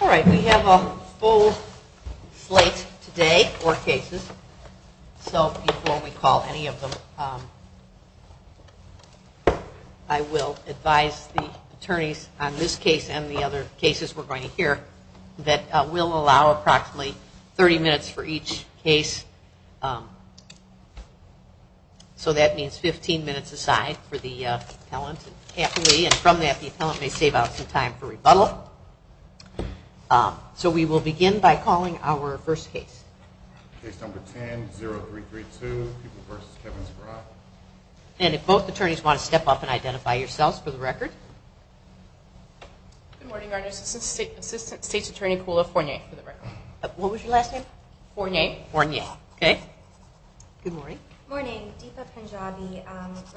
All right, we have a full slate today, or cases, so you can only call any of them. I will advise the attorneys on this case and the other cases we're going to hear that we'll allow approximately 30 minutes for each case. So that means 15 minutes aside for the So we will begin by calling our first case. And if both attorneys want to step up and identify yourselves for the record. Good morning, I'm Assistant State's Attorney Kula Fournier for the record. What was your last name? Fournier. Fournier, okay. Good morning. Good morning, Deepa Punjabi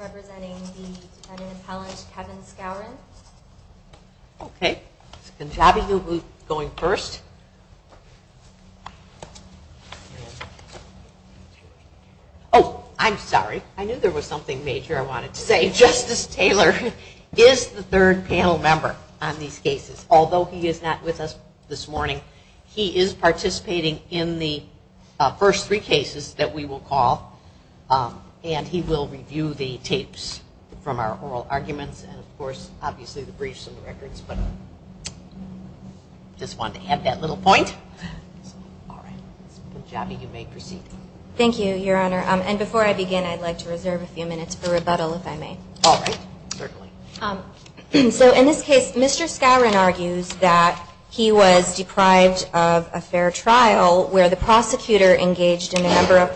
representing the defendant appellant Kevin Skowron. Okay, Punjabi will be going first. Oh, I'm sorry, I knew there was something major I wanted to say. Justice Taylor is the third panel member on these cases. Although he is not with us this morning, he is And he will review the tapes from our oral arguments, and of course, obviously the briefs and records, but just wanted to add that little point. All right, Punjabi, you may proceed. Thank you, Your Honor. And before I begin, I'd like to reserve a few minutes for rebuttal, if I may. All right, certainly. So in this case, Mr. Skowron argues that he was deprived of a fair trial where the prosecutor engaged in a number of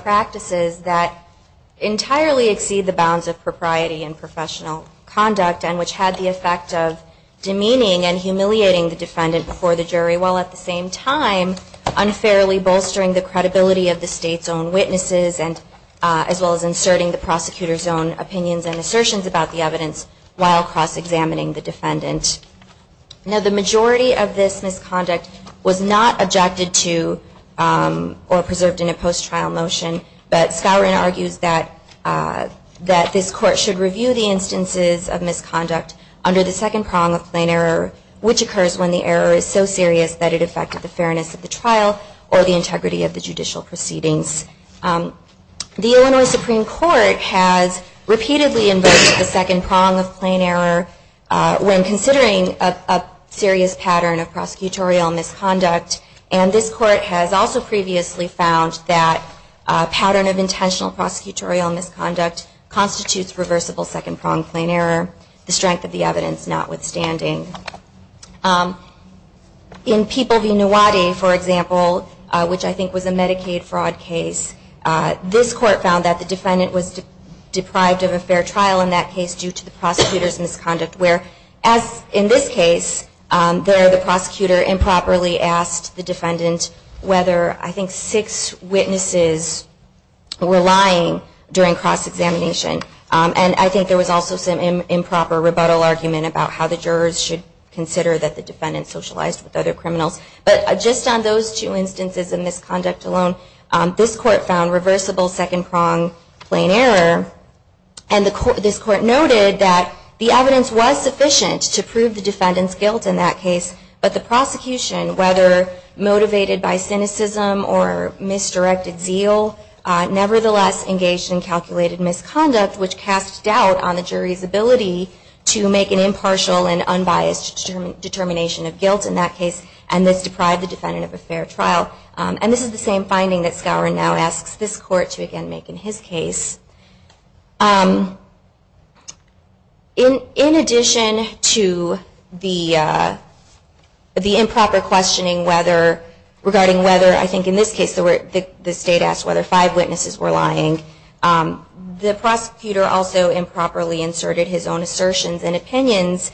entirely exceed the bounds of propriety and professional conduct, and which had the effect of demeaning and humiliating the defendant before the jury, while at the same time unfairly bolstering the credibility of the State's own witnesses, as well as inserting the prosecutor's own opinions and assertions about the evidence while cross-examining the defendant. Now, the majority of this misconduct was not objected to or preserved in a fair trial, and Mr. Skowron argues that this Court should review the instances of misconduct under the second prong of plain error, which occurs when the error is so serious that it affected the fairness of the trial or the integrity of the judicial proceedings. The Illinois Supreme Court has repeatedly invoked the second prong of plain error when considering a serious pattern of prosecutorial misconduct, and this Court has also previously found that a pattern of intentional prosecutorial misconduct constitutes reversible second prong of plain error, the strength of the evidence notwithstanding. In People v. Nuwadi, for example, which I think was a Medicaid fraud case, this Court found that the defendant was deprived of a fair trial in that case due to the prosecutor's misconduct, where, as in this case, there the prosecutor improperly asked the defendant whether I think six witnesses were lying during cross-examination. And I think there was also some improper rebuttal argument about how the jurors should consider that the defendant socialized with other criminals. But just on those two instances of misconduct alone, this Court found reversible second prong plain error, and this Court noted that the evidence was sufficient to prove the defendant's guilt in that case, but the prosecution, whether motivated by cynicism or misdirected zeal, nevertheless engaged in calculated misconduct, which cast doubt on the jury's ability to make an impartial and unbiased determination of the defendant's guilt in his case. In addition to the improper questioning regarding whether, I think in this case, the State asked whether five witnesses were lying, the prosecutor also improperly inserted his own assertions and opinions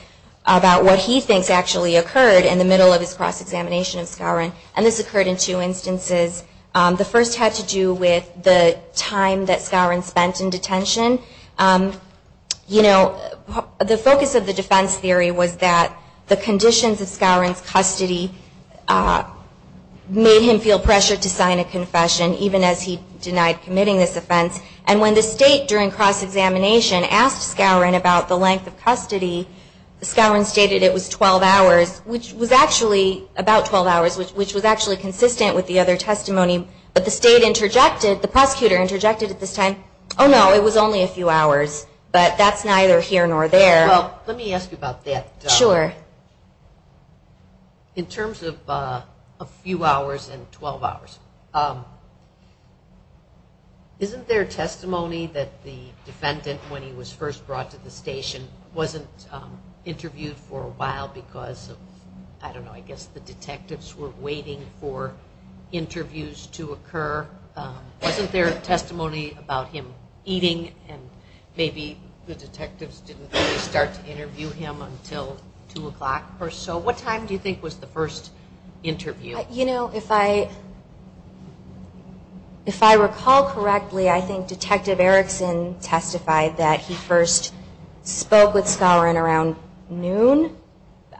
about what he thinks actually occurred in the middle of his cross-examination of Skowron, and this occurred in two instances. The first had to do with the time that Skowron spent in detention. You know, the focus of the defense theory was that the conditions of Skowron's custody made him feel pressured to sign a confession, even as he denied committing this offense. And when the prosecutor interjected at this time, oh, no, it was only a few hours, but that's neither here nor there. Well, let me ask you about that. Sure. In terms of a few hours and 12 hours, isn't there testimony that the defendant, when he was first brought to the station, wasn't interviewed for a while because of, I don't know, I guess the detectives were waiting for interviews to occur? Wasn't there testimony about him eating and maybe the detectives didn't really start to interview him until 2 o'clock or so? What time do you think was the first interview? You know, if I recall correctly, I think Detective Erickson testified that he first spoke with Skowron around noon.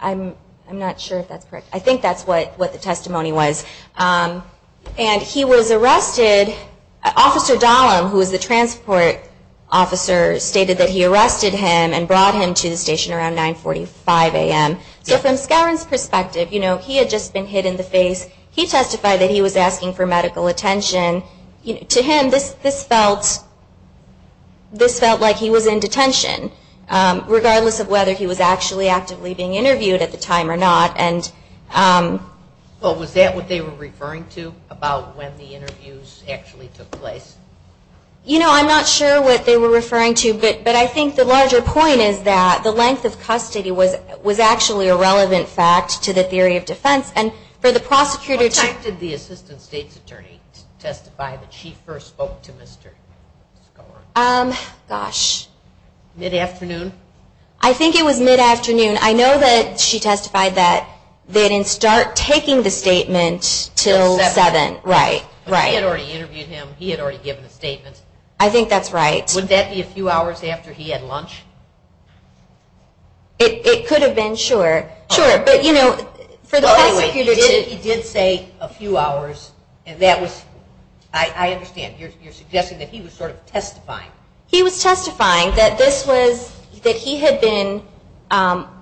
I'm not sure if that's correct. I think that's what the testimony was. And he was arrested. Officer Dahlem, who was the transport officer, stated that he arrested him and brought him to the station around 945 a.m. So from Skowron's perspective, you know, he had just been hit in the face. He testified that he was asking for medical attention. To him, this felt like he was in detention, regardless of whether he was actually actively being interviewed at the time or not. Well, was that what they were referring to about when the interviews actually took place? You know, I'm not sure what they were referring to, but I think the larger point is that the length of custody was actually a relevant fact to the theory of defense. And for the prosecutor to... What time did the Assistant State's Attorney testify that she first spoke to Mr. Skowron? Gosh. Mid-afternoon? I think it was I think that's right. Would that be a few hours after he had lunch? It could have been, sure. Sure. But, you know, for the prosecutor to... He did say a few hours, and that was... I understand. You're suggesting that he was sort of testifying. He was testifying that this was... that he had been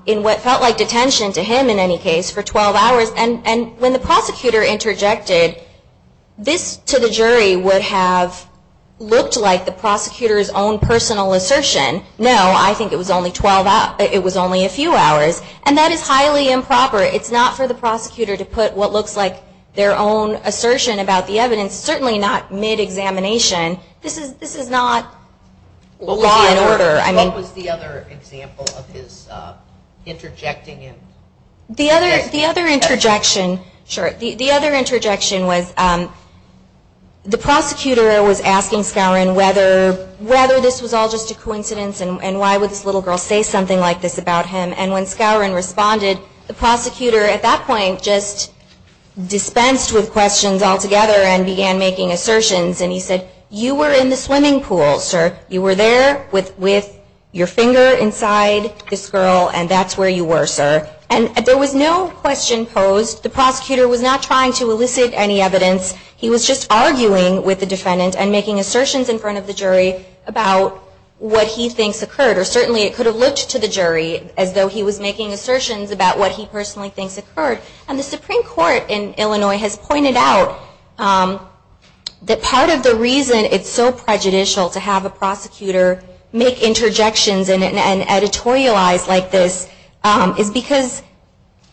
in what felt like detention to him, in any case, for 12 hours. And when the prosecutor interjected, this to the jury would have looked like the prosecutor's own personal assertion. No, I think it was only a few hours. And that is highly improper. It's not for the prosecutor to put what looks like their own assertion about the evidence, certainly not mid-examination. This is not law and order. What was the other example of his interjecting? The other interjection was the prosecutor was asking Skowron whether this was all just a coincidence and why would this little girl say something like this about him. And when Skowron responded, the prosecutor at that point just dispensed with questions altogether and began making assertions about what he thinks occurred, or certainly it could have looked to the jury as though he was making assertions about what he personally thinks occurred. And the Supreme Court in Illinois has pointed out that part of the reason it's so prejudicial to have a prosecutor make interjections about what he thinks occurred is because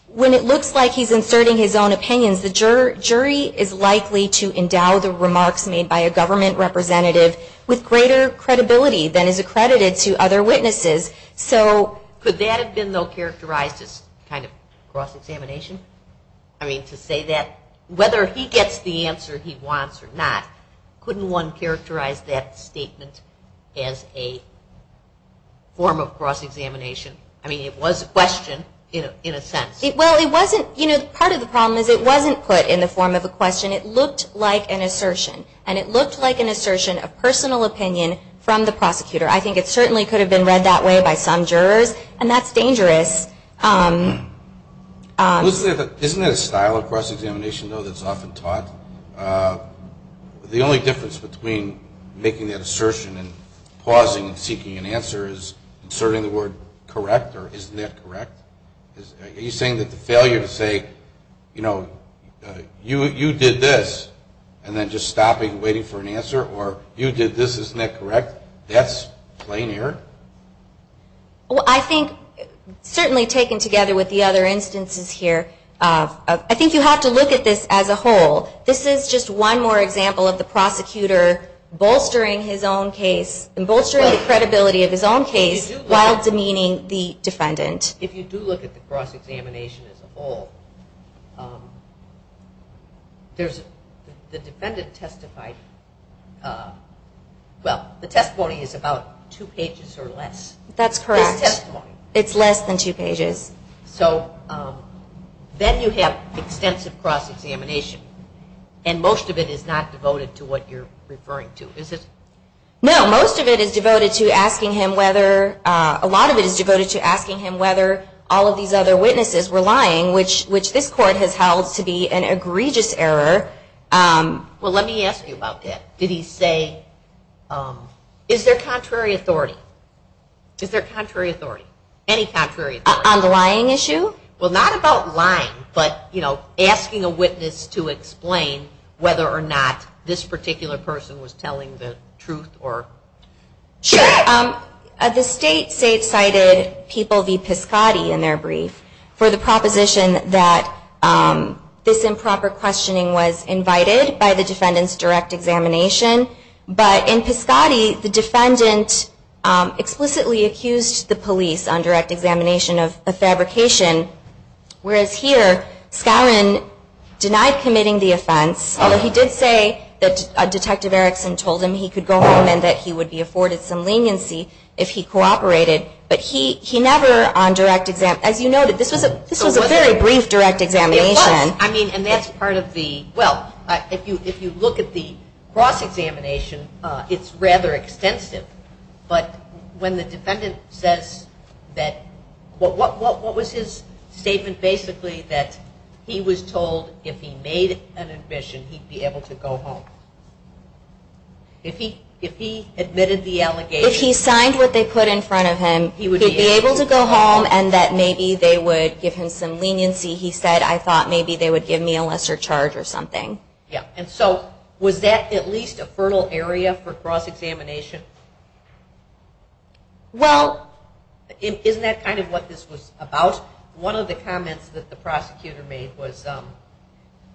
when it looks like he's inserting his own opinions, the jury is likely to endow the remarks made by a government representative with greater credibility than is accredited to other witnesses. So could that have been, though, characterized as kind of cross-examination? I mean, to say that, whether he gets the answer he wants or not, couldn't one characterize that statement as a form of cross-examination? I mean, it was a question in a sense. Well, it wasn't, you know, part of the problem is it wasn't put in the form of a question. It looked like an assertion, and it looked like an assertion of personal opinion from the prosecutor. I think it certainly could have been read that way by some jurors, and that's dangerous. Isn't it a style of cross-examination, though, that's often taught? The only difference between making that assertion and pausing and seeking an answer is inserting the word correct or isn't that correct? Are you saying that the failure to say, you know, you did this, and then just stopping and seeking an answer, or you did this, isn't that correct? That's plain error? Well, I think, certainly taken together with the other instances here, I think you have to look at this as a whole. This is just one more example of the prosecutor bolstering his own case and bolstering the credibility of his own case while demeaning the defendant. If you do look at the cross-examination as a whole, there's the defendant testified well, the testimony is about two pages or less. That's correct. His testimony. It's less than two pages. So, then you have extensive cross-examination, and most of it is not devoted to what you're referring to, is it? No, most of it is devoted to asking him whether, a lot of it is about that. Did he say, is there contrary authority? Is there contrary authority? Any contrary authority? On the lying issue? Well, not about lying, but, you know, asking a witness to explain whether or not this particular person was telling the truth or... Sure. The state cited People v. Piscotti in their brief for the proposition that this improper questioning was invited by the defendant's direct examination, but in Piscotti, the defendant explicitly accused the police on direct examination of a fabrication, whereas here, Skowron denied committing the crime, but he never on direct examination. As you noted, this was a very brief direct examination. It was. I mean, and that's part of the, well, if you look at the cross-examination, it's rather extensive, but when the defendant says that, what was his statement, basically, that he was told if he made an admission, he'd be able to go home? If he admitted the allegation... If he signed what they put in front of him, he would be able to go home and that maybe they would give him some leniency. He said, I thought maybe they would give me a lesser charge or something. Yeah, and so, was that at least a fertile area for cross-examination? Well... Isn't that kind of what this was about? One of the comments that the prosecutor made was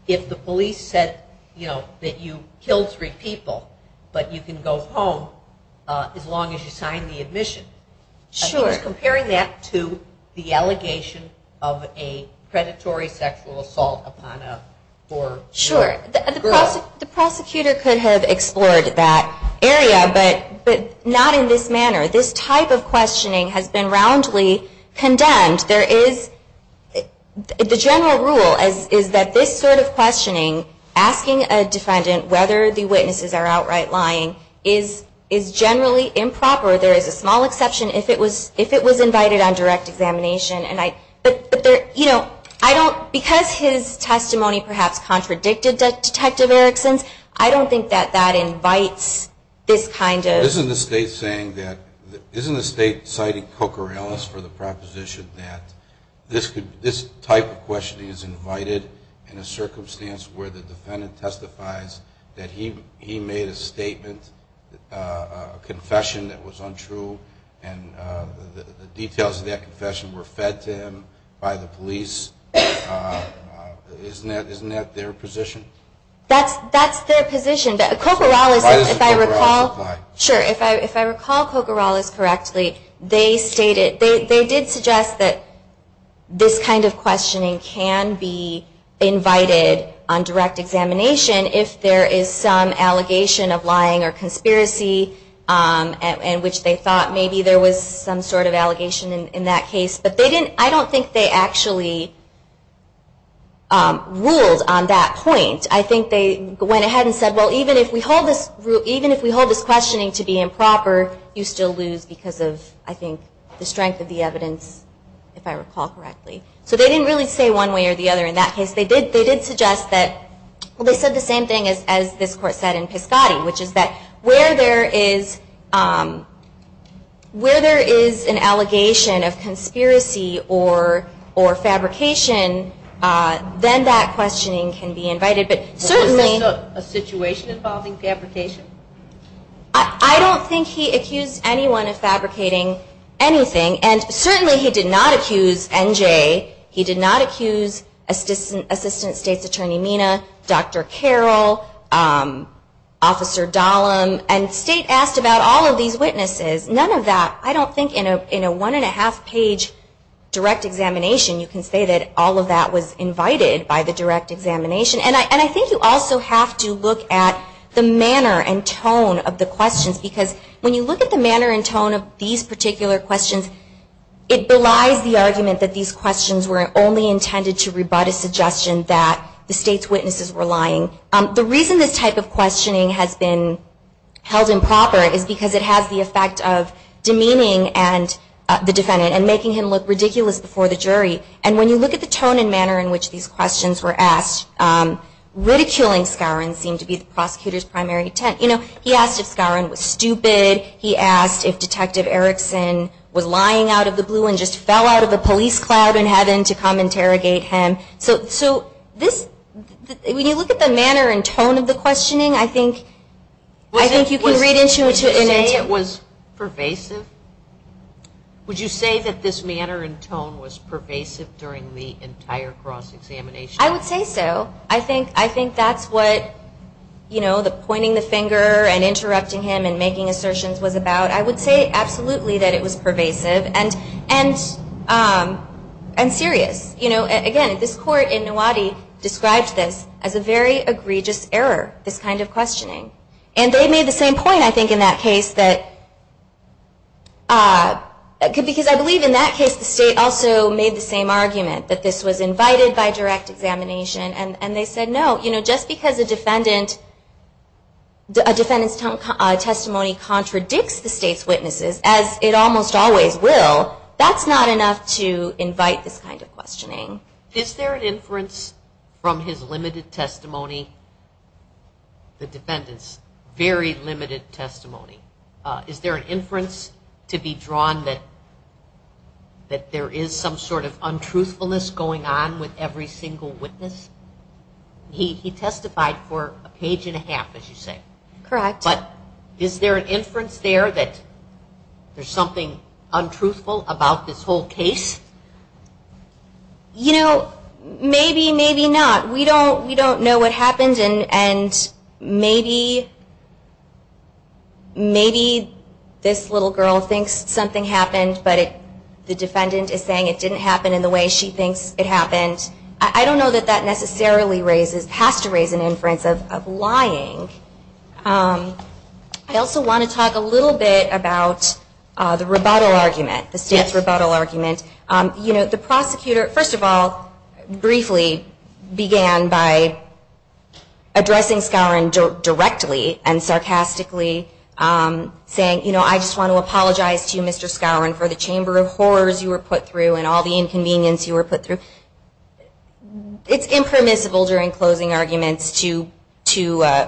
if the police said, you know, that you killed three people, but you can go home as long as you sign the admission. Sure. I think it's comparing that to the allegation of a predatory sexual assault upon a four-year-old girl. Sure. The prosecutor could have explored that area, but not in this case. But what I'm trying to tell you is that this sort of questioning, asking a defendant whether the witnesses are outright lying, is generally improper. There is a small exception if it was invited on direct examination. But, you know, I don't... Because his testimony perhaps contradicted Detective Erickson's, I don't think that that invites this kind of... Isn't the state citing Coker Ellis for the proposition that this type of questioning is invited in a circumstance where the defendant testifies that he made a statement, a confession that was untrue, and the details of that That's their position. Coker Ellis, if I recall... Why does Coker Ellis lie? Sure. If I recall Coker Ellis correctly, they stated... They did suggest that this kind of questioning can be invited on direct examination if there is some allegation of lying or conspiracy, which they thought maybe there was some sort of allegation in that case. But I don't think they actually ruled on that point. I think they went ahead and said, well, even if we hold this questioning to be improper, you still lose because of, I think, the strength of the evidence, if I recall correctly. So they didn't really say one way or the other in that case. They did suggest that... Well, they said the same thing as this Court said in Piscotty, which is that where there is an allegation of conspiracy or fabrication, then that questioning can be invited. But certainly... Was this a situation involving fabrication? I don't think he accused anyone of fabricating anything. And certainly he did not accuse NJ. He did not accuse Assistant State's Attorney Mina, Dr. Carroll, Officer Dahlem. And State asked about all of these witnesses. None of that... I don't think in a one and a half page direct examination you can say that all of that was invited by the direct examination. And I think you also have to look at the manner in which and tone of the questions. Because when you look at the manner and tone of these particular questions, it belies the argument that these questions were only intended to rebut a suggestion that the State's witnesses were lying. The reason this type of questioning has been held improper is because it has the effect of demeaning the defendant and making him look ridiculous before the jury. And when you look at the tone and manner in which these questions were asked, ridiculing Scarron seemed to be the prosecutor's primary intent. You know, he asked if Scarron was stupid. He asked if Detective Erickson was lying out of the blue and just fell out of a police cloud in heaven to come interrogate him. So this... When you look at the manner and tone of the questioning, I think you can read into it... Would you say it was pervasive? Would you say that this was a false examination? I would say so. I think that's what, you know, the pointing the finger and interrupting him and making assertions was about. I would say absolutely that it was pervasive and serious. You know, again, this court in Nuwadi described this as a very egregious error, this kind of questioning. And they made the same point, I think, in that case that... Because I believe in that case the State also made the same argument that this was invited by direct examination. And they said no. You know, just because a defendant's testimony contradicts the State's witnesses, as it almost always will, that's not enough to invite this kind of questioning. Is there an inference from his limited testimony, the defendant's very limited testimony, is there an inference to be drawn that there is some sort of untruthfulness going on with every single witness? He testified for a page and a half, as you say. Correct. But is there an inference there that there's something untruthful about this whole case? You know, maybe, maybe not. We don't know what happened, and maybe this little girl thinks something happened, but the defendant is saying it didn't happen in the way she thinks it happened. I don't know that that necessarily has to raise an inference of lying. I also want to talk a little bit about the rebuttal argument, the State's rebuttal argument. The State's rebuttal argument began by addressing Skowron directly and sarcastically saying, you know, I just want to apologize to you, Mr. Skowron, for the chamber of horrors you were put through and all the inconvenience you were put through. It's impermissible during closing arguments to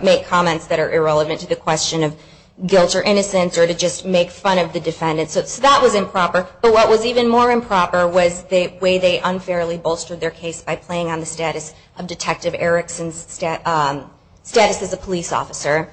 make comments that are irrelevant to the question of guilt or innocence or to just make fun of the defendant. So that was improper. But what was even more important was that the defendant, in view of Detective Erickson's status as a police officer,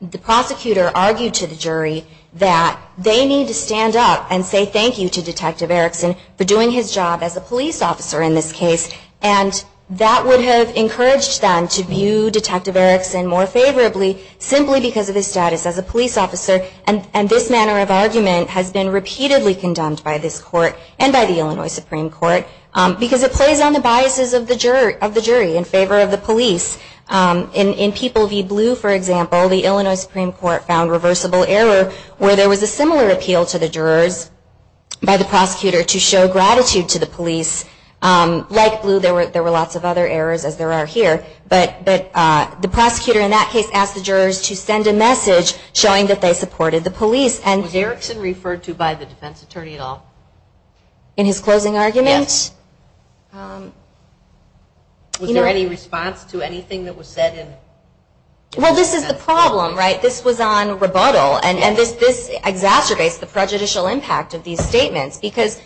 the prosecutor argued to the jury that they need to stand up and say thank you to Detective Erickson for doing his job as a police officer in this case, and that would have encouraged them to view Detective Erickson more favorably simply because of his status as a police officer, and this manner of argument has been repeatedly condemned by this Court and by the Illinois Supreme Court. In fact, there was a similar appeal to the jurors by the prosecutor to show gratitude to the police. Like Blue, there were lots of other errors as there are here, but the prosecutor in that case asked the jurors to send a message showing that they supported the police. Was Detective Erickson referred to by the defense attorney at all? Was there any response to anything that was said? Well, this is the problem, right? This was on rebuttal, and this exacerbates the prejudicial impact of these statements because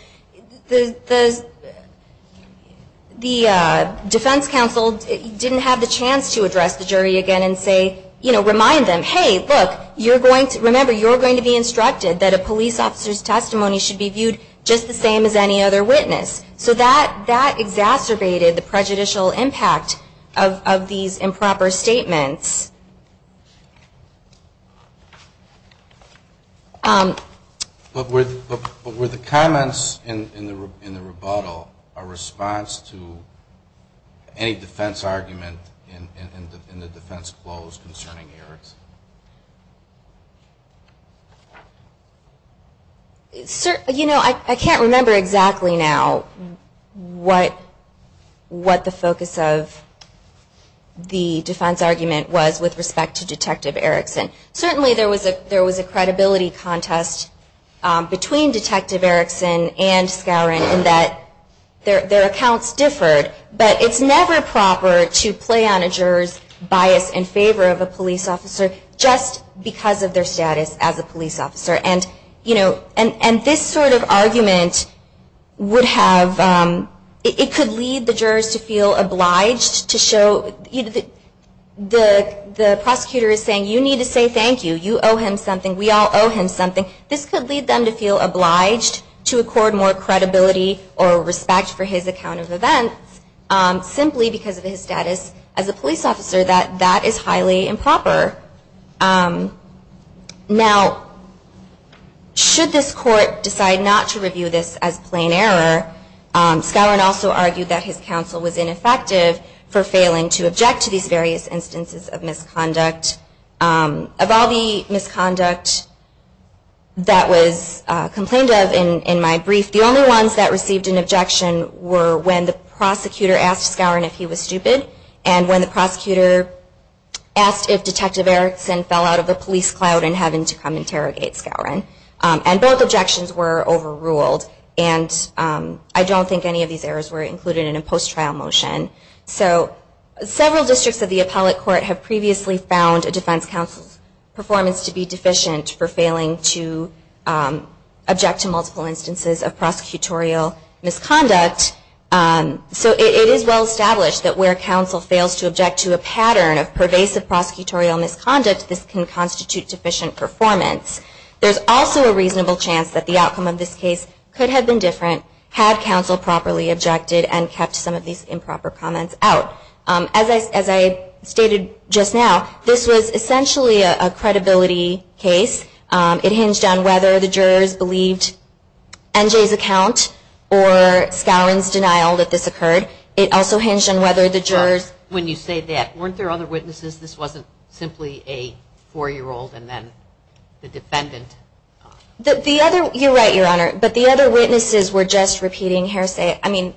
the defense counsel didn't have the chance to address the jury again and say, you know, remind them, hey, look, remember, you're going to be instructed that a police officer's testimony should be viewed just the same as any other witness. So that exacerbated the prejudicial impact of these improper statements. But were the comments in the rebuttal a response to any defense argument in the defense closed concerning Erickson? You know, I can't remember exactly now what the focus of the defense argument was with respect to Detective Erickson. Certainly there was a credibility contest between Detective Erickson and Skowron in that their accounts differed, but it's never proper to play on a juror's bias in favor of a police officer. And this sort of argument would have, it could lead the jurors to feel obliged to show, the prosecutor is saying you need to say thank you, you owe him something, we all owe him something. This could lead them to feel obliged to accord more credibility or respect for his account of events simply because of his conduct. Now, should this court decide not to review this as plain error, Skowron also argued that his counsel was ineffective for failing to object to these various instances of misconduct. Of all the misconduct that was complained of in my brief, the only ones that received an objection were when the prosecutor asked Skowron if he was stupid, and when the prosecutor asked if Detective Erickson was stupid, and when the prosecutor asked if Detective Erickson fell out of the police cloud in having to come interrogate Skowron. And both objections were overruled, and I don't think any of these errors were included in a post-trial motion. So several districts of the appellate court have previously found a defense counsel's performance to be deficient for failing to object to multiple instances of prosecutorial misconduct. So it is well established that where counsel fails to object to a pattern of pervasive prosecutorial misconduct, this can constitute deficient performance. There's also a reasonable chance that the outcome of this case could have been different had counsel properly objected and kept some of these improper comments out. As I stated just now, this was essentially a credibility case. It hinged on whether the jurors believed NJ's account or Skowron's denial that this was a child's statement. When you say that, weren't there other witnesses? This wasn't simply a four-year-old and then the defendant? You're right, Your Honor. But the other witnesses were just repeating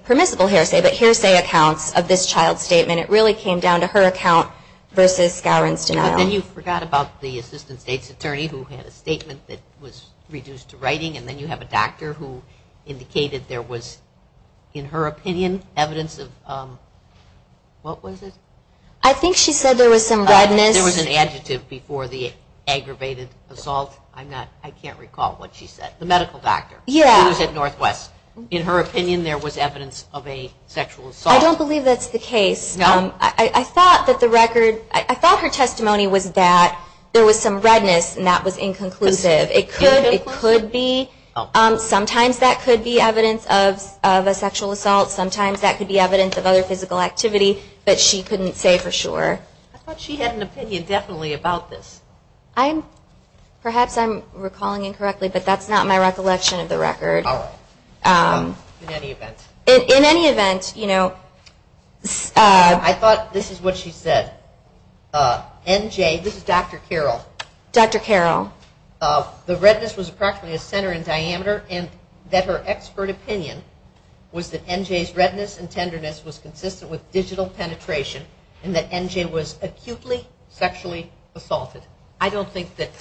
permissible hearsay, but hearsay accounts of this child's statement. It really came down to her account versus Skowron's denial. But then you forgot about the assistant state's attorney who had a statement that was reduced to writing, and then you have a doctor who said there was some redness. I think she said there was some redness. There was an adjective before the aggravated assault. I can't recall what she said. The medical doctor. Yeah. It was at Northwest. In her opinion, there was evidence of a sexual assault. I don't believe that's the case. No? I thought that the record, I thought her testimony was that there was some redness, and that was inconclusive. It could be. Sometimes that could be evidence of a sexual assault. Sometimes that could be evidence of other physical activity. But I don't believe that's the case. Okay. But she couldn't say for sure. I thought she had an opinion definitely about this. I'm, perhaps I'm recalling incorrectly, but that's not my recollection of the record. All right. In any event. In any event, you know. I thought this is what she said. NJ, this is Dr. Carroll. Dr. Carroll. The redness was practically a center in diameter, and that her expert opinion was that NJ's redness and tenderness was consistent with digital penetration. And that NJ was acutely sexually assaulted. I don't think that.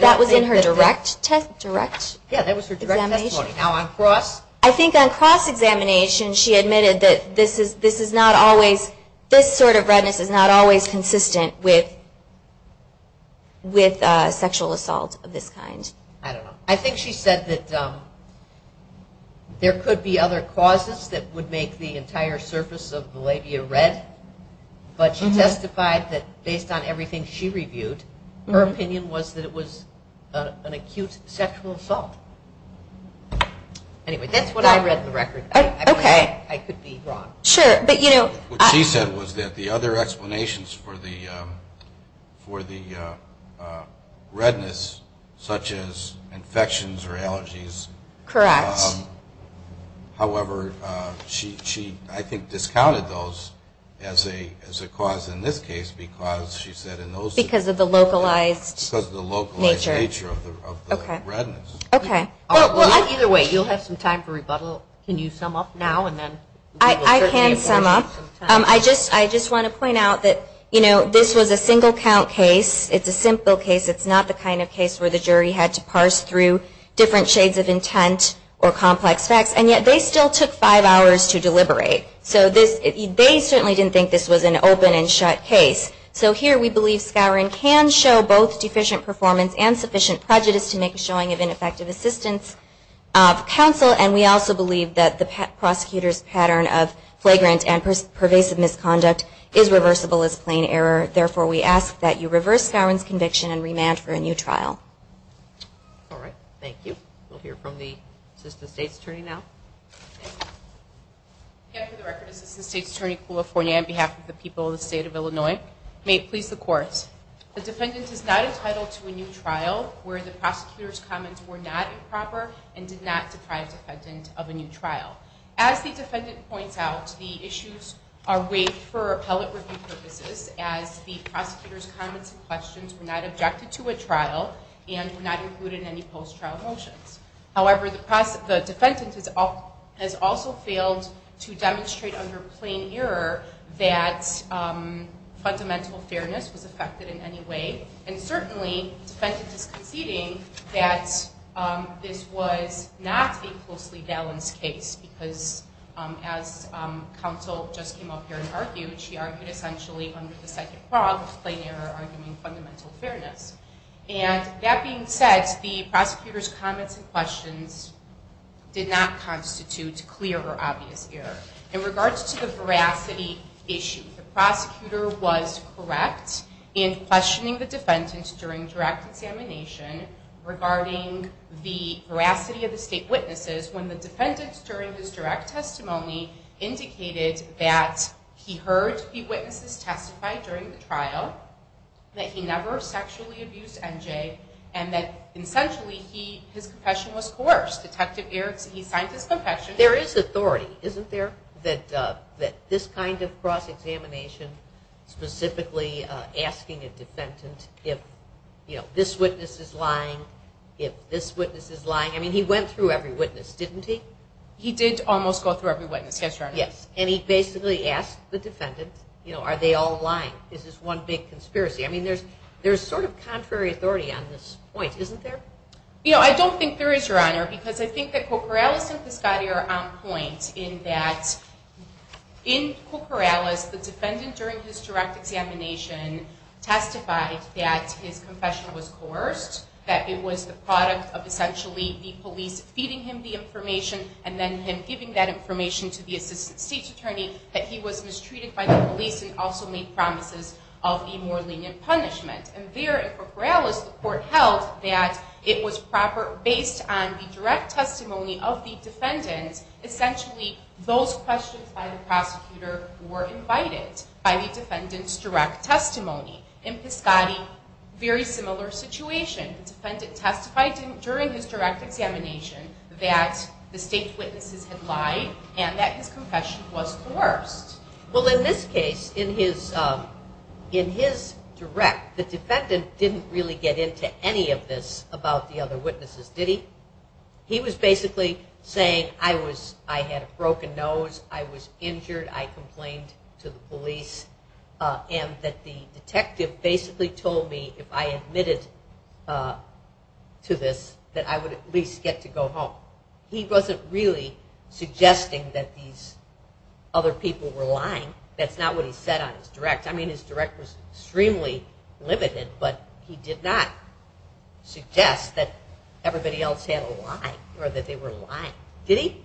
That was in her direct testimony? Yeah, that was her direct testimony. Now on cross. I think on cross examination, she admitted that this is not always, this sort of redness is not always consistent with sexual assault of this kind. I don't know. I think she said that there could be other causes that would make the entire surface of the labia red. But she testified that based on everything she reviewed, her opinion was that it was an acute sexual assault. Anyway, that's what I read in the record. Okay. I could be wrong. Sure, but you know. What she said was that the other explanations for the redness, such as infections or allergies. Correct. However, she, I think, discounted those. As a cause in this case. Because she said in those. Because of the localized nature. Because of the localized nature of the redness. Okay. Either way, you'll have some time for rebuttal. Can you sum up now? I can sum up. I just want to point out that this was a single count case. It's a simple case. It's not the kind of case where the jury had to parse through different shades of intent or complex facts. And yet they still took five hours to deliberate. So this, they certainly didn't think this was an open and shut case. So here we believe Scowron can show both deficient performance and sufficient prejudice to make a showing of ineffective assistance of counsel. And we also believe that the prosecutor's pattern of flagrant and pervasive misconduct is reversible as plain error. Therefore, we ask that you reverse Scowron's conviction and remand for a new trial. All right. Thank you. We'll hear from the Assistant State's Attorney now. Thank you. Again, for the record, this is the State's Attorney from California on behalf of the people of the State of Illinois. May it please the Court. The defendant is not entitled to a new trial where the prosecutor's comments were not improper and did not deprive the defendant of a new trial. As the defendant points out, the issues are waived for appellate review purposes as the prosecutor's comments and questions were not objected to at trial and were not included in any post-trial motions. However, the defendant has also failed to demonstrate under plain error that fundamental fairness was affected in any way. And certainly, the defendant is conceding that this was not a closely balanced case because as counsel just came up here and argued, she argued essentially under the second prong of plain error arguing fundamental fairness. And that being said, as the prosecutor's comments and questions did not constitute clear or obvious error. In regards to the veracity issue, the prosecutor was correct in questioning the defendant during direct examination regarding the veracity of the State witnesses when the defendant during his direct testimony indicated that he heard the witnesses testify during the trial, that he never sexually abused NJ, and that essentially his confession was coerced. Detective Erickson, he signed his confession. There is authority, isn't there? That this kind of cross-examination specifically asking a defendant if this witness is lying, if this witness is lying. I mean, he went through every witness, didn't he? He did almost go through every witness. Yes, Your Honor. And he basically asked the defendant, are they all lying? Is this one big conspiracy? I mean, there's sort of contrary authority on this point, isn't there? You know, I don't think there is, Your Honor, because I think that Koukouralas and Piscotti are on point in that in Koukouralas, the defendant during his direct examination testified that his confession was coerced, that it was the product of essentially the police feeding him the information and then him giving that information to the Assistant State's Attorney, that he was mistreated by the police and also made promises of a more lenient punishment. And there in Koukouralas, the court held that it was proper based on the direct testimony of the defendant essentially those questions by the prosecutor were invited by the defendant's direct testimony. In Piscotti, very similar situation. The defendant testified during his direct examination that the state witnesses had lied and that his confession was coerced. Well, in this case, in his direct, the defendant didn't really get into any of this about the other witnesses, did he? He was basically saying, I had a broken nose, I was injured, I complained to the police, and that the detective basically told me if I admitted to this, that I would at least get to go home. He wasn't really suggesting that these other people were lying. That's not what he said on his direct. I mean, his direct was extremely limited, but he did not suggest that everybody else had a lie or that they were lying. Did he?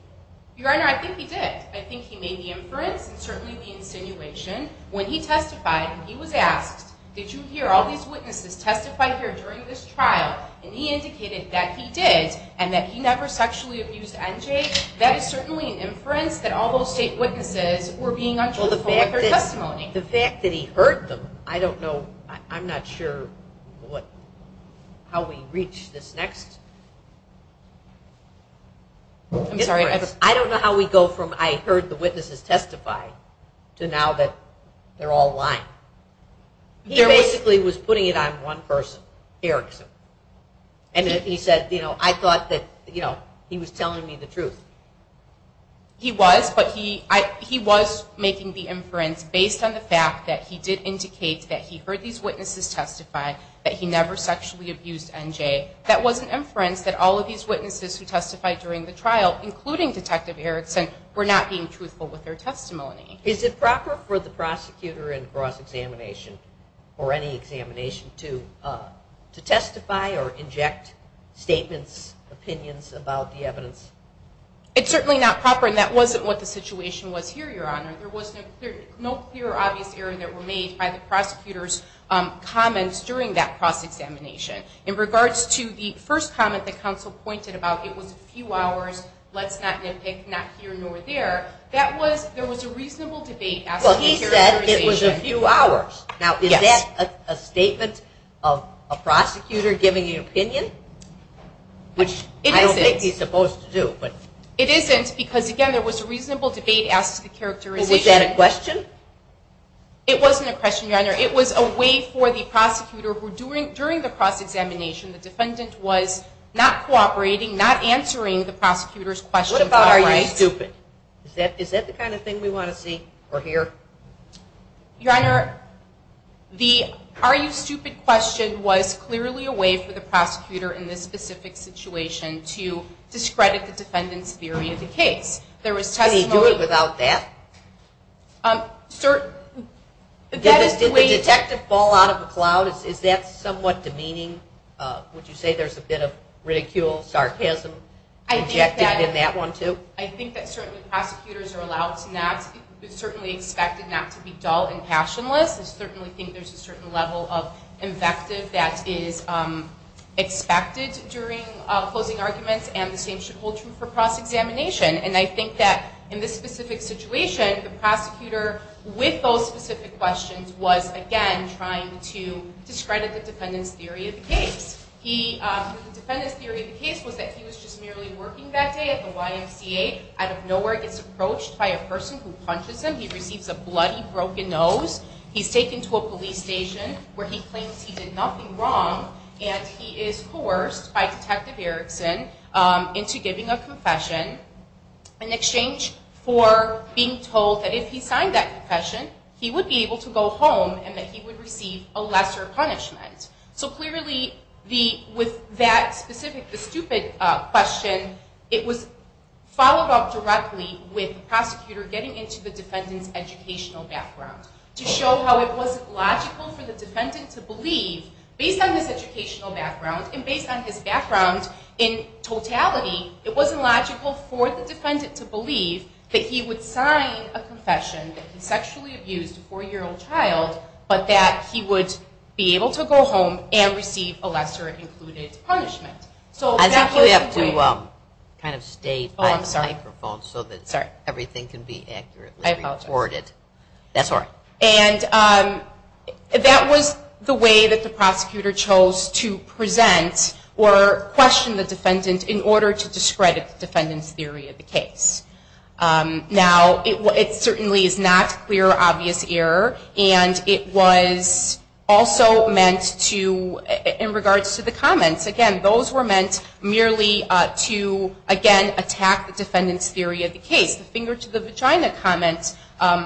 Your Honor, I think he did. I think he made the inference and certainly the insinuation. When he testified, he was asked, did you hear all these witnesses testify here during this trial? And he indicated that he did and that he never sexually abused NJ. That is certainly an inference that all those state witnesses were being untruthful with their testimony. The fact that he heard them, I don't know, I'm not sure how we reach this next inference. I don't know how we go from I heard the witnesses testify to now that they're all lying. He basically was putting it on one person, Erickson. I thought that he was telling me the truth. He was, but he was making the inference based on the fact that he did indicate that he heard these witnesses testify that he never sexually abused NJ. That was an inference that all of these witnesses who testified during the trial, including Detective Erickson, were not being truthful with their testimony. Is it proper for the prosecutor in cross-examination or any to testify or inject statements, opinions about the evidence? It's certainly not proper, and that wasn't what the situation was here, Your Honor. There was no clear or obvious error that were made by the prosecutor's comments during that cross-examination. In regards to the first comment that counsel pointed about, it was a few hours, let's not nitpick, not here nor there, that was, there was a reasonable debate Well, he said it was a few hours. Now, is that a statement of a prosecutor giving an opinion? Which I don't think he's supposed to do. It isn't because, again, there was a reasonable debate as to the characterization. Was that a question? It wasn't a question, Your Honor. It was a way for the prosecutor, who during the cross-examination, the defendant was not cooperating, not answering the prosecutor's questions What about, are you stupid? Is that the kind of thing we want to see or hear? Your Honor, the are you stupid question was clearly a way for the prosecutor in this specific situation to discredit the defendant's theory of the case. Can he do it without that? Did the detective fall out of a cloud? Is that somewhat demeaning? Would you say there's a bit of ridicule, sarcasm injected in that one too? I think that certainly prosecutors are allowed to not, certainly expected not to be dull and passionless. I certainly think there's a certain level of invective that is expected during closing arguments and the same should hold true for cross-examination. And I think that in this specific situation, the prosecutor with those specific questions was, again, trying to discredit the defendant's theory of the case. The defendant's theory of the case was that he was just merely working that day at the YMCA out of nowhere gets approached by a person who punches him. He receives a bloody, broken nose. He's taken to a police station where he claims he did nothing wrong and he is coerced by Detective Erickson into giving a confession in exchange for being told that if he signed that confession, he would be able to go home and that he would receive a lesser punishment. So clearly with that specific stupid question, it was followed up directly with the prosecutor getting into the defendant's educational background to show how it wasn't logical for the defendant to believe, based on his educational background and based on his background in totality, it wasn't logical for the defendant to believe that he would sign a confession that he sexually abused a four-year-old child but that he would be able to go home and receive a lesser included punishment. I think you have to kind of stay by the microphone so that everything can be accurately recorded. And that was the way that the prosecutor chose to present or question the defendant in order to discredit the defendant's theory of the case. Now it certainly is not clear obvious error and it was also meant to, in regards to the comments, again, those were meant merely to, again, attack the defendant's theory of the case. The finger to the vagina comment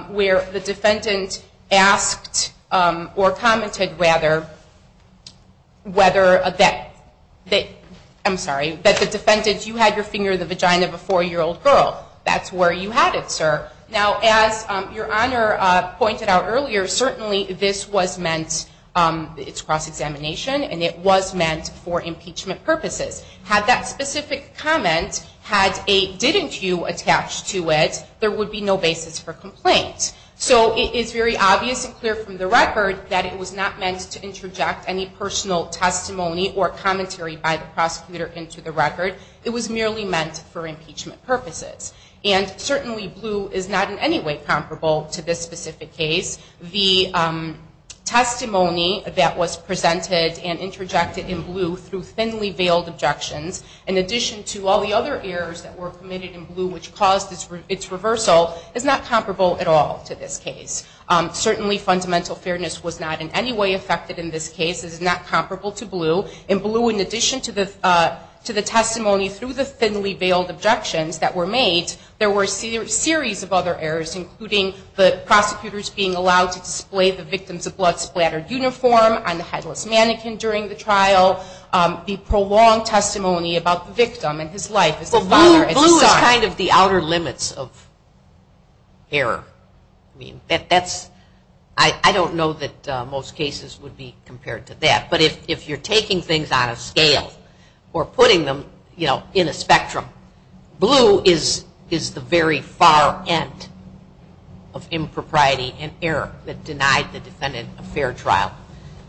where the defendant asked or commented, rather, whether that I'm sorry, that the defendant, you had your finger in the vagina of a four-year-old girl. That's where you had it, sir. Now, as Your Honor pointed out earlier, certainly this was meant, it's cross-examination and it was meant for if a specific comment had a didn't you attached to it, there would be no basis for complaint. So it is very obvious and clear from the record that it was not meant to interject any personal testimony or commentary by the prosecutor into the record. It was merely meant for impeachment purposes. And certainly blue is not in any way comparable to this specific case. The testimony that was presented and interjected in blue through in addition to all the other errors that were committed in blue which caused its reversal is not comparable at all to this case. Certainly fundamental fairness was not in any way affected in this case. It is not comparable to blue. In blue, in addition to the testimony through the thinly veiled objections that were made, there were a series of other errors including the prosecutors being allowed to display the victim's blood splattered uniform on the headless mannequin during the trial, the prolonged testimony about the victim and his life. Blue is kind of the outer limits of error. That's I don't know that most cases would be compared to that. But if you're taking things on a scale or putting them in a spectrum, blue is the very far end of impropriety and error that denied the defendant a fair trial.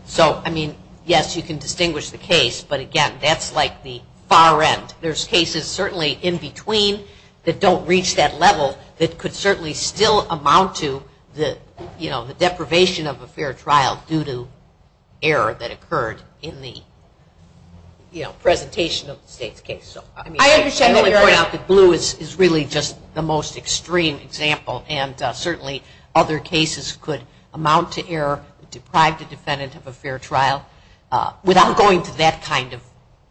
So I mean yes you can distinguish the case but again that's like the far end. There's cases certainly in between that don't reach that level that could certainly still amount to the deprivation of a fair trial due to error that occurred in the presentation of the state's case. Blue is really just the most extreme example and certainly other cases could amount to error deprived a defendant of a fair trial without going to that kind of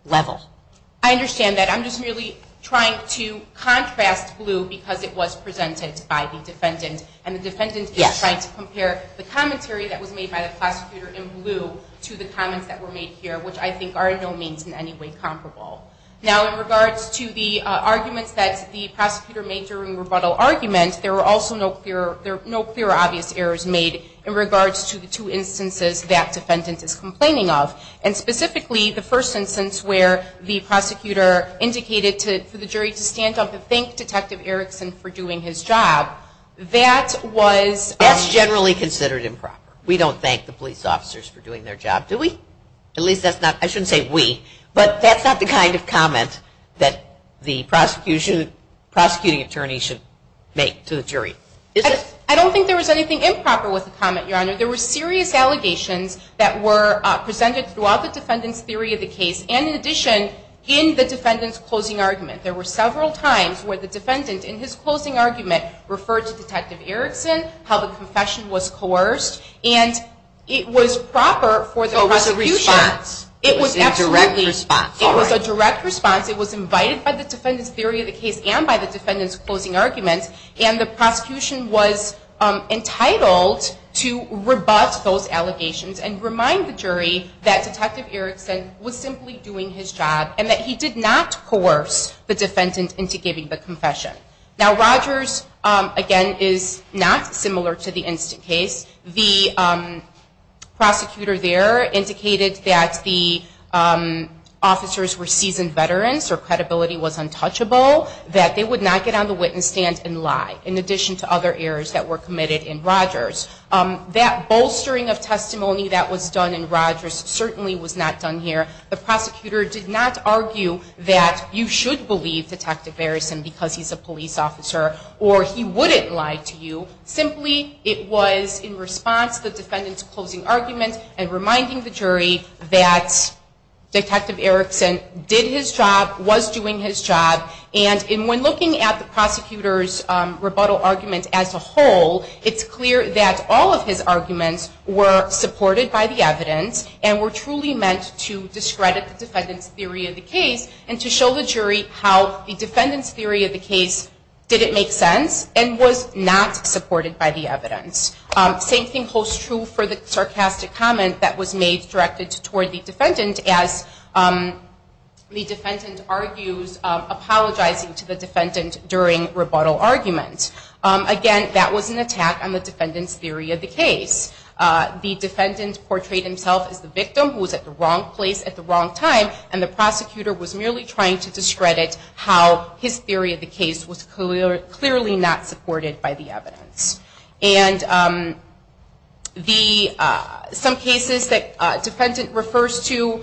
level. I understand that. I'm just really trying to contrast blue because it was presented by the defendant and the defendant is trying to compare the commentary that was made by the prosecutor in blue to the comments that were made here which I think are in no means in any way comparable. Now in regards to the arguments that the prosecutor made during rebuttal argument, there were also no clear obvious errors made in regards to the two instances that defendant is complaining of and specifically the first instance where the prosecutor indicated for the jury to stand up and thank Detective Erickson for doing his job that was That's generally considered improper. We don't thank the police officers for doing their job. Do we? At least that's not I shouldn't say we but that's not the kind of comment that the prosecuting attorney should make to the jury. I don't think there was anything improper with the comment, Your Honor. There were serious allegations that were presented throughout the defendant's theory of the case and in addition in the defendant's closing argument. There were several times where the defendant in his closing argument referred to Detective Erickson how the confession was coerced for the prosecution It was a direct response. It was invited by the defendant's theory of the case and by the defendant's closing argument and the prosecution was entitled to rebut those allegations and remind the jury that Detective Erickson was simply doing his job and that he did not coerce the defendant into giving the confession. Now Rogers again is not similar to the instant case. The prosecutor there indicated that the officers were seasoned veterans or credibility was untouchable that they would not get on the witness stand and lie in addition to other errors that were committed in Rogers. That bolstering of testimony that was done in Rogers certainly was not done here. The prosecutor did not argue that you should believe Detective Erickson because he's a police officer or he wouldn't lie to you. Simply it was in response to the defendant's closing argument and reminding the jury that Detective Erickson did his job, was doing his job and when looking at the prosecutor's rebuttal argument as a whole it's clear that all of his arguments were supported by the evidence and were truly meant to discredit the defendant's theory of the case and to show the jury how the defendant's theory of the case didn't make sense and was not supported by the evidence. Same thing holds true for the sarcastic comment that was made directed toward the defendant as the defendant argues apologizing to the defendant during rebuttal argument. Again, that was an attack on the defendant's theory of the case. The defendant portrayed himself as the victim who was at the wrong place at the wrong time and the prosecutor was merely trying to discredit how his theory of the case was clearly not supported by the evidence. And some cases that defendant refers to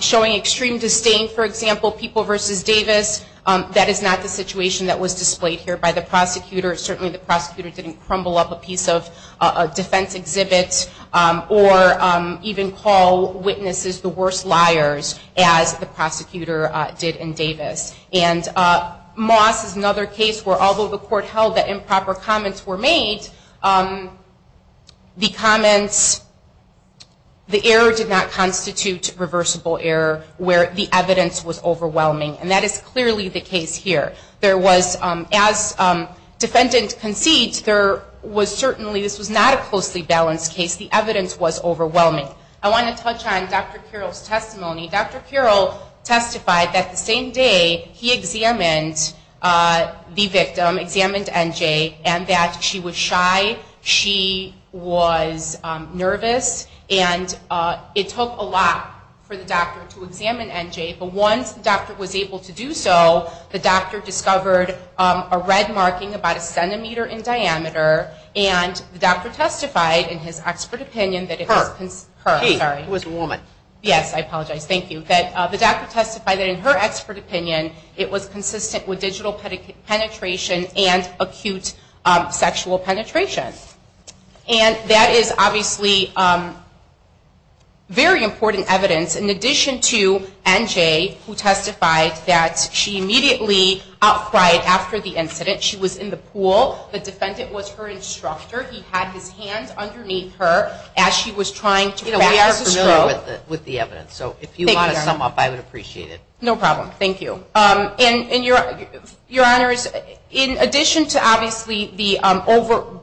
showing extreme disdain for example, People vs. Davis that is not the situation that was displayed here by the prosecutor. Certainly the prosecutor didn't crumble up a piece of a defense exhibit or even call witnesses the worst liars as the prosecutor did in Davis. Moss is another case where although the court held that improper comments were made the comments the error did not constitute reversible error where the evidence was overwhelming and that is clearly the case here. There was as defendant concedes there was certainly this was not a closely balanced case the evidence was overwhelming. I want to touch on Dr. Kural's testimony. Dr. Kural testified that the same day he examined the victim, examined NJ and that she was shy she was nervous and it took a lot for the doctor to examine NJ but once the doctor was able to do so the doctor discovered a red marking about a centimeter in diameter and the doctor testified in his expert opinion that it was her, sorry. Yes, I apologize. Thank you. The doctor testified that in her expert opinion it was consistent with digital penetration and acute sexual penetration and that is obviously very important evidence in addition to NJ who testified that she immediately out cried after the incident she was in the pool, the defendant was her instructor, he had his hands underneath her as she was trying to grab the straw. We are familiar with the evidence so if you want to sum up I would appreciate it. No problem, thank you. And your honors, in addition to obviously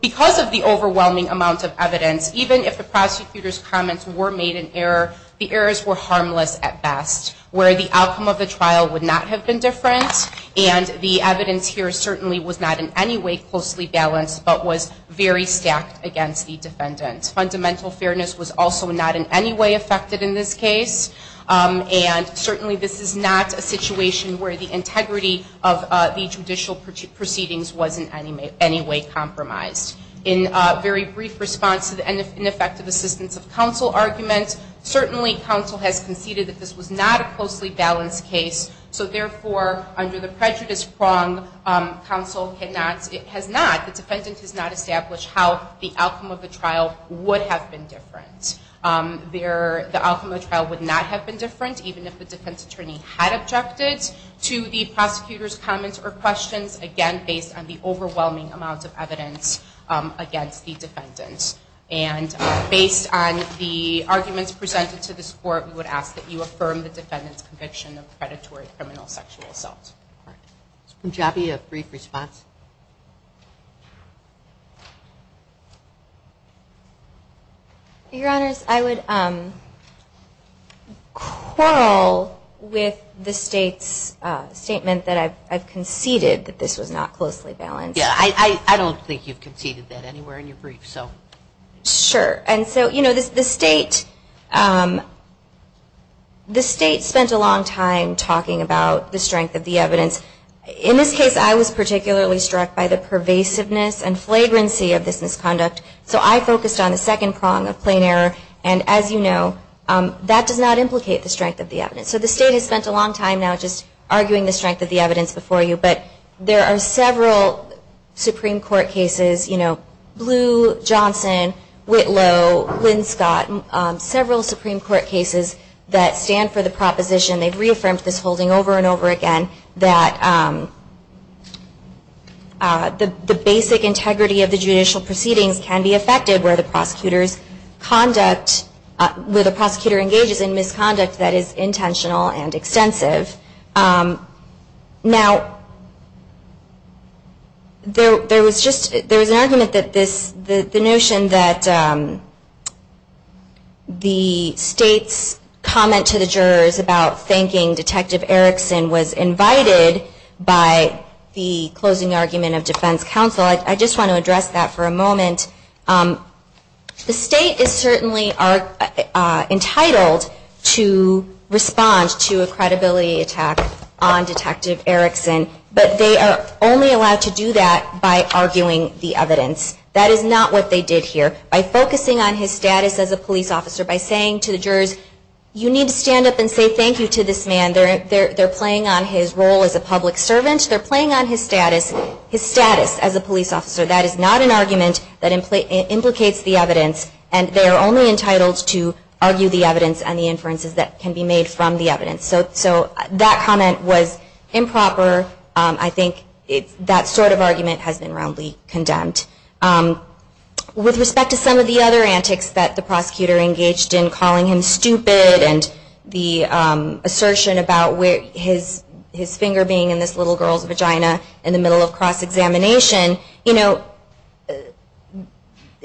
because of the overwhelming amount of evidence even if the prosecutor's comments were made in error, the errors were harmless at best where the outcome of the trial would not have been different and the evidence here certainly was not in any way closely balanced but was very stacked against the defendant. Fundamental fairness was also not in any way affected in this case and certainly this is not a situation where the integrity of the judicial proceedings was in any way compromised. In very brief response to the ineffective assistance of counsel argument certainly counsel has conceded that this was not a closely balanced case so therefore under the prejudice prong counsel has not, the defendant has not established how the outcome of the trial would have been different. The outcome of the trial would not have been different even if the defense attorney had objected to the prosecutor's comments or questions again based on the overwhelming amount of evidence against the defendant. And based on the arguments presented to this court we would ask that you affirm the defendant's conviction of predatory criminal sexual assault. Would you have a brief response? Your honors, I would quarrel with the state's statement that I've conceded that this was not closely balanced. Yeah, I don't think you've conceded that anywhere in your brief so. Sure, and so you know the state spent a long time talking about the strength of the evidence. In this case I was particularly struck by the pervasiveness and flagrancy of this misconduct so I focused on the second prong of plain error and as you know that does not implicate the strength of the evidence. So the state has spent a long time now arguing the strength of the evidence before you but there are several Supreme Court cases Blue, Johnson, Whitlow, Linscott, several Supreme Court cases that stand for the proposition, they've reaffirmed this holding over and over again that the basic integrity of the judicial proceedings can be affected where the prosecutor's conduct, where the prosecutor engages in misconduct that is intentional and extensive. Now there was just, there was an argument that this, the notion that the state's comment to the jurors about thanking Detective Erickson was invited by the closing argument of defense counsel. I just want to address that for a moment. The state is certainly entitled to respond to a credibility attack on Detective Erickson but they are only allowed to do that by arguing the evidence. That is not what they did here. By focusing on his status as a police officer, by saying to the jurors you need to stand up and say thank you to this man they're playing on his role as a public servant, they're playing on his status as a police officer. That is not an argument that implicates the evidence and they are only entitled to argue the evidence and the inferences that can be made from the evidence. So that comment was improper. I think that sort of argument has been roundly condemned. With respect to some of the other antics that the prosecutor engaged in calling him stupid and the assertion about where his finger being in this little girl's examination,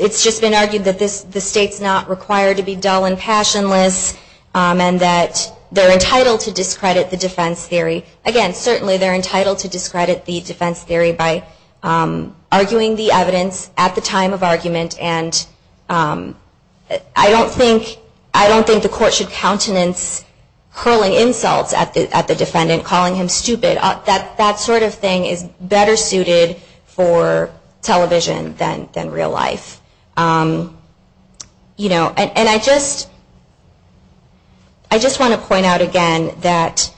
it's just been argued that the state's not required to be dull and passionless and that they're entitled to discredit the defense theory. Again, certainly they're entitled to discredit the defense theory by arguing the evidence at the time of argument and I don't think the court should countenance hurling insults at the defendant calling him stupid. That sort of thing is better suited for television than real life. And I just want to point out again that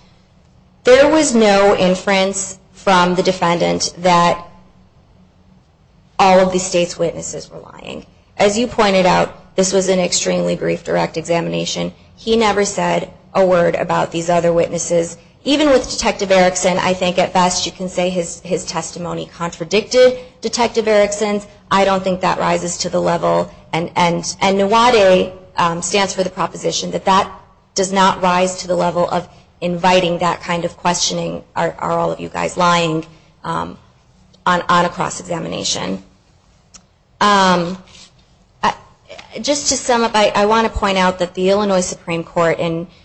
there was no inference from the defendant that all of the state's witnesses were lying. As you pointed out, this was an extremely brief direct examination. He never said a word about these other witnesses. Even with his testimony contradicted Detective Erickson's, I don't think that rises to the level and NAWADE stands for the proposition that that does not rise to the level of inviting that kind of questioning are all of you guys lying on a cross-examination. I want to point out that the Illinois Supreme Court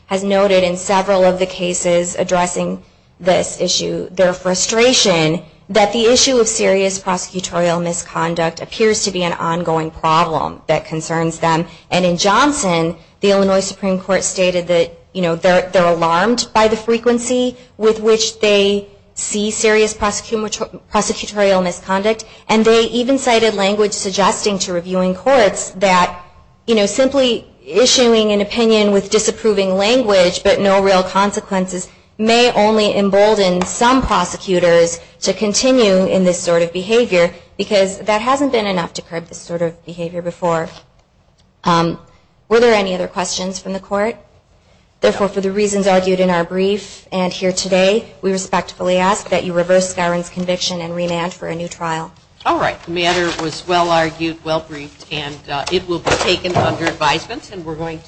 has noted in several of the cases addressing this issue, their frustration that the issue of serious prosecutorial misconduct appears to be an ongoing problem that concerns them. And in Johnson the Illinois Supreme Court stated that they're alarmed by the frequency with which they see serious prosecutorial misconduct. And they even cited language suggesting to reviewing courts that simply issuing an opinion with disapproving language but no real consequences may only embolden some prosecutors to continue in this sort of behavior because that hasn't been enough to curb this sort of behavior before. Were there any other questions from the court? Therefore, for the reasons argued in our brief and here today, we respectfully ask that you reverse Skyron's conviction and remand for a new trial. The matter was well argued, well briefed and it will be taken under advisement and we're going to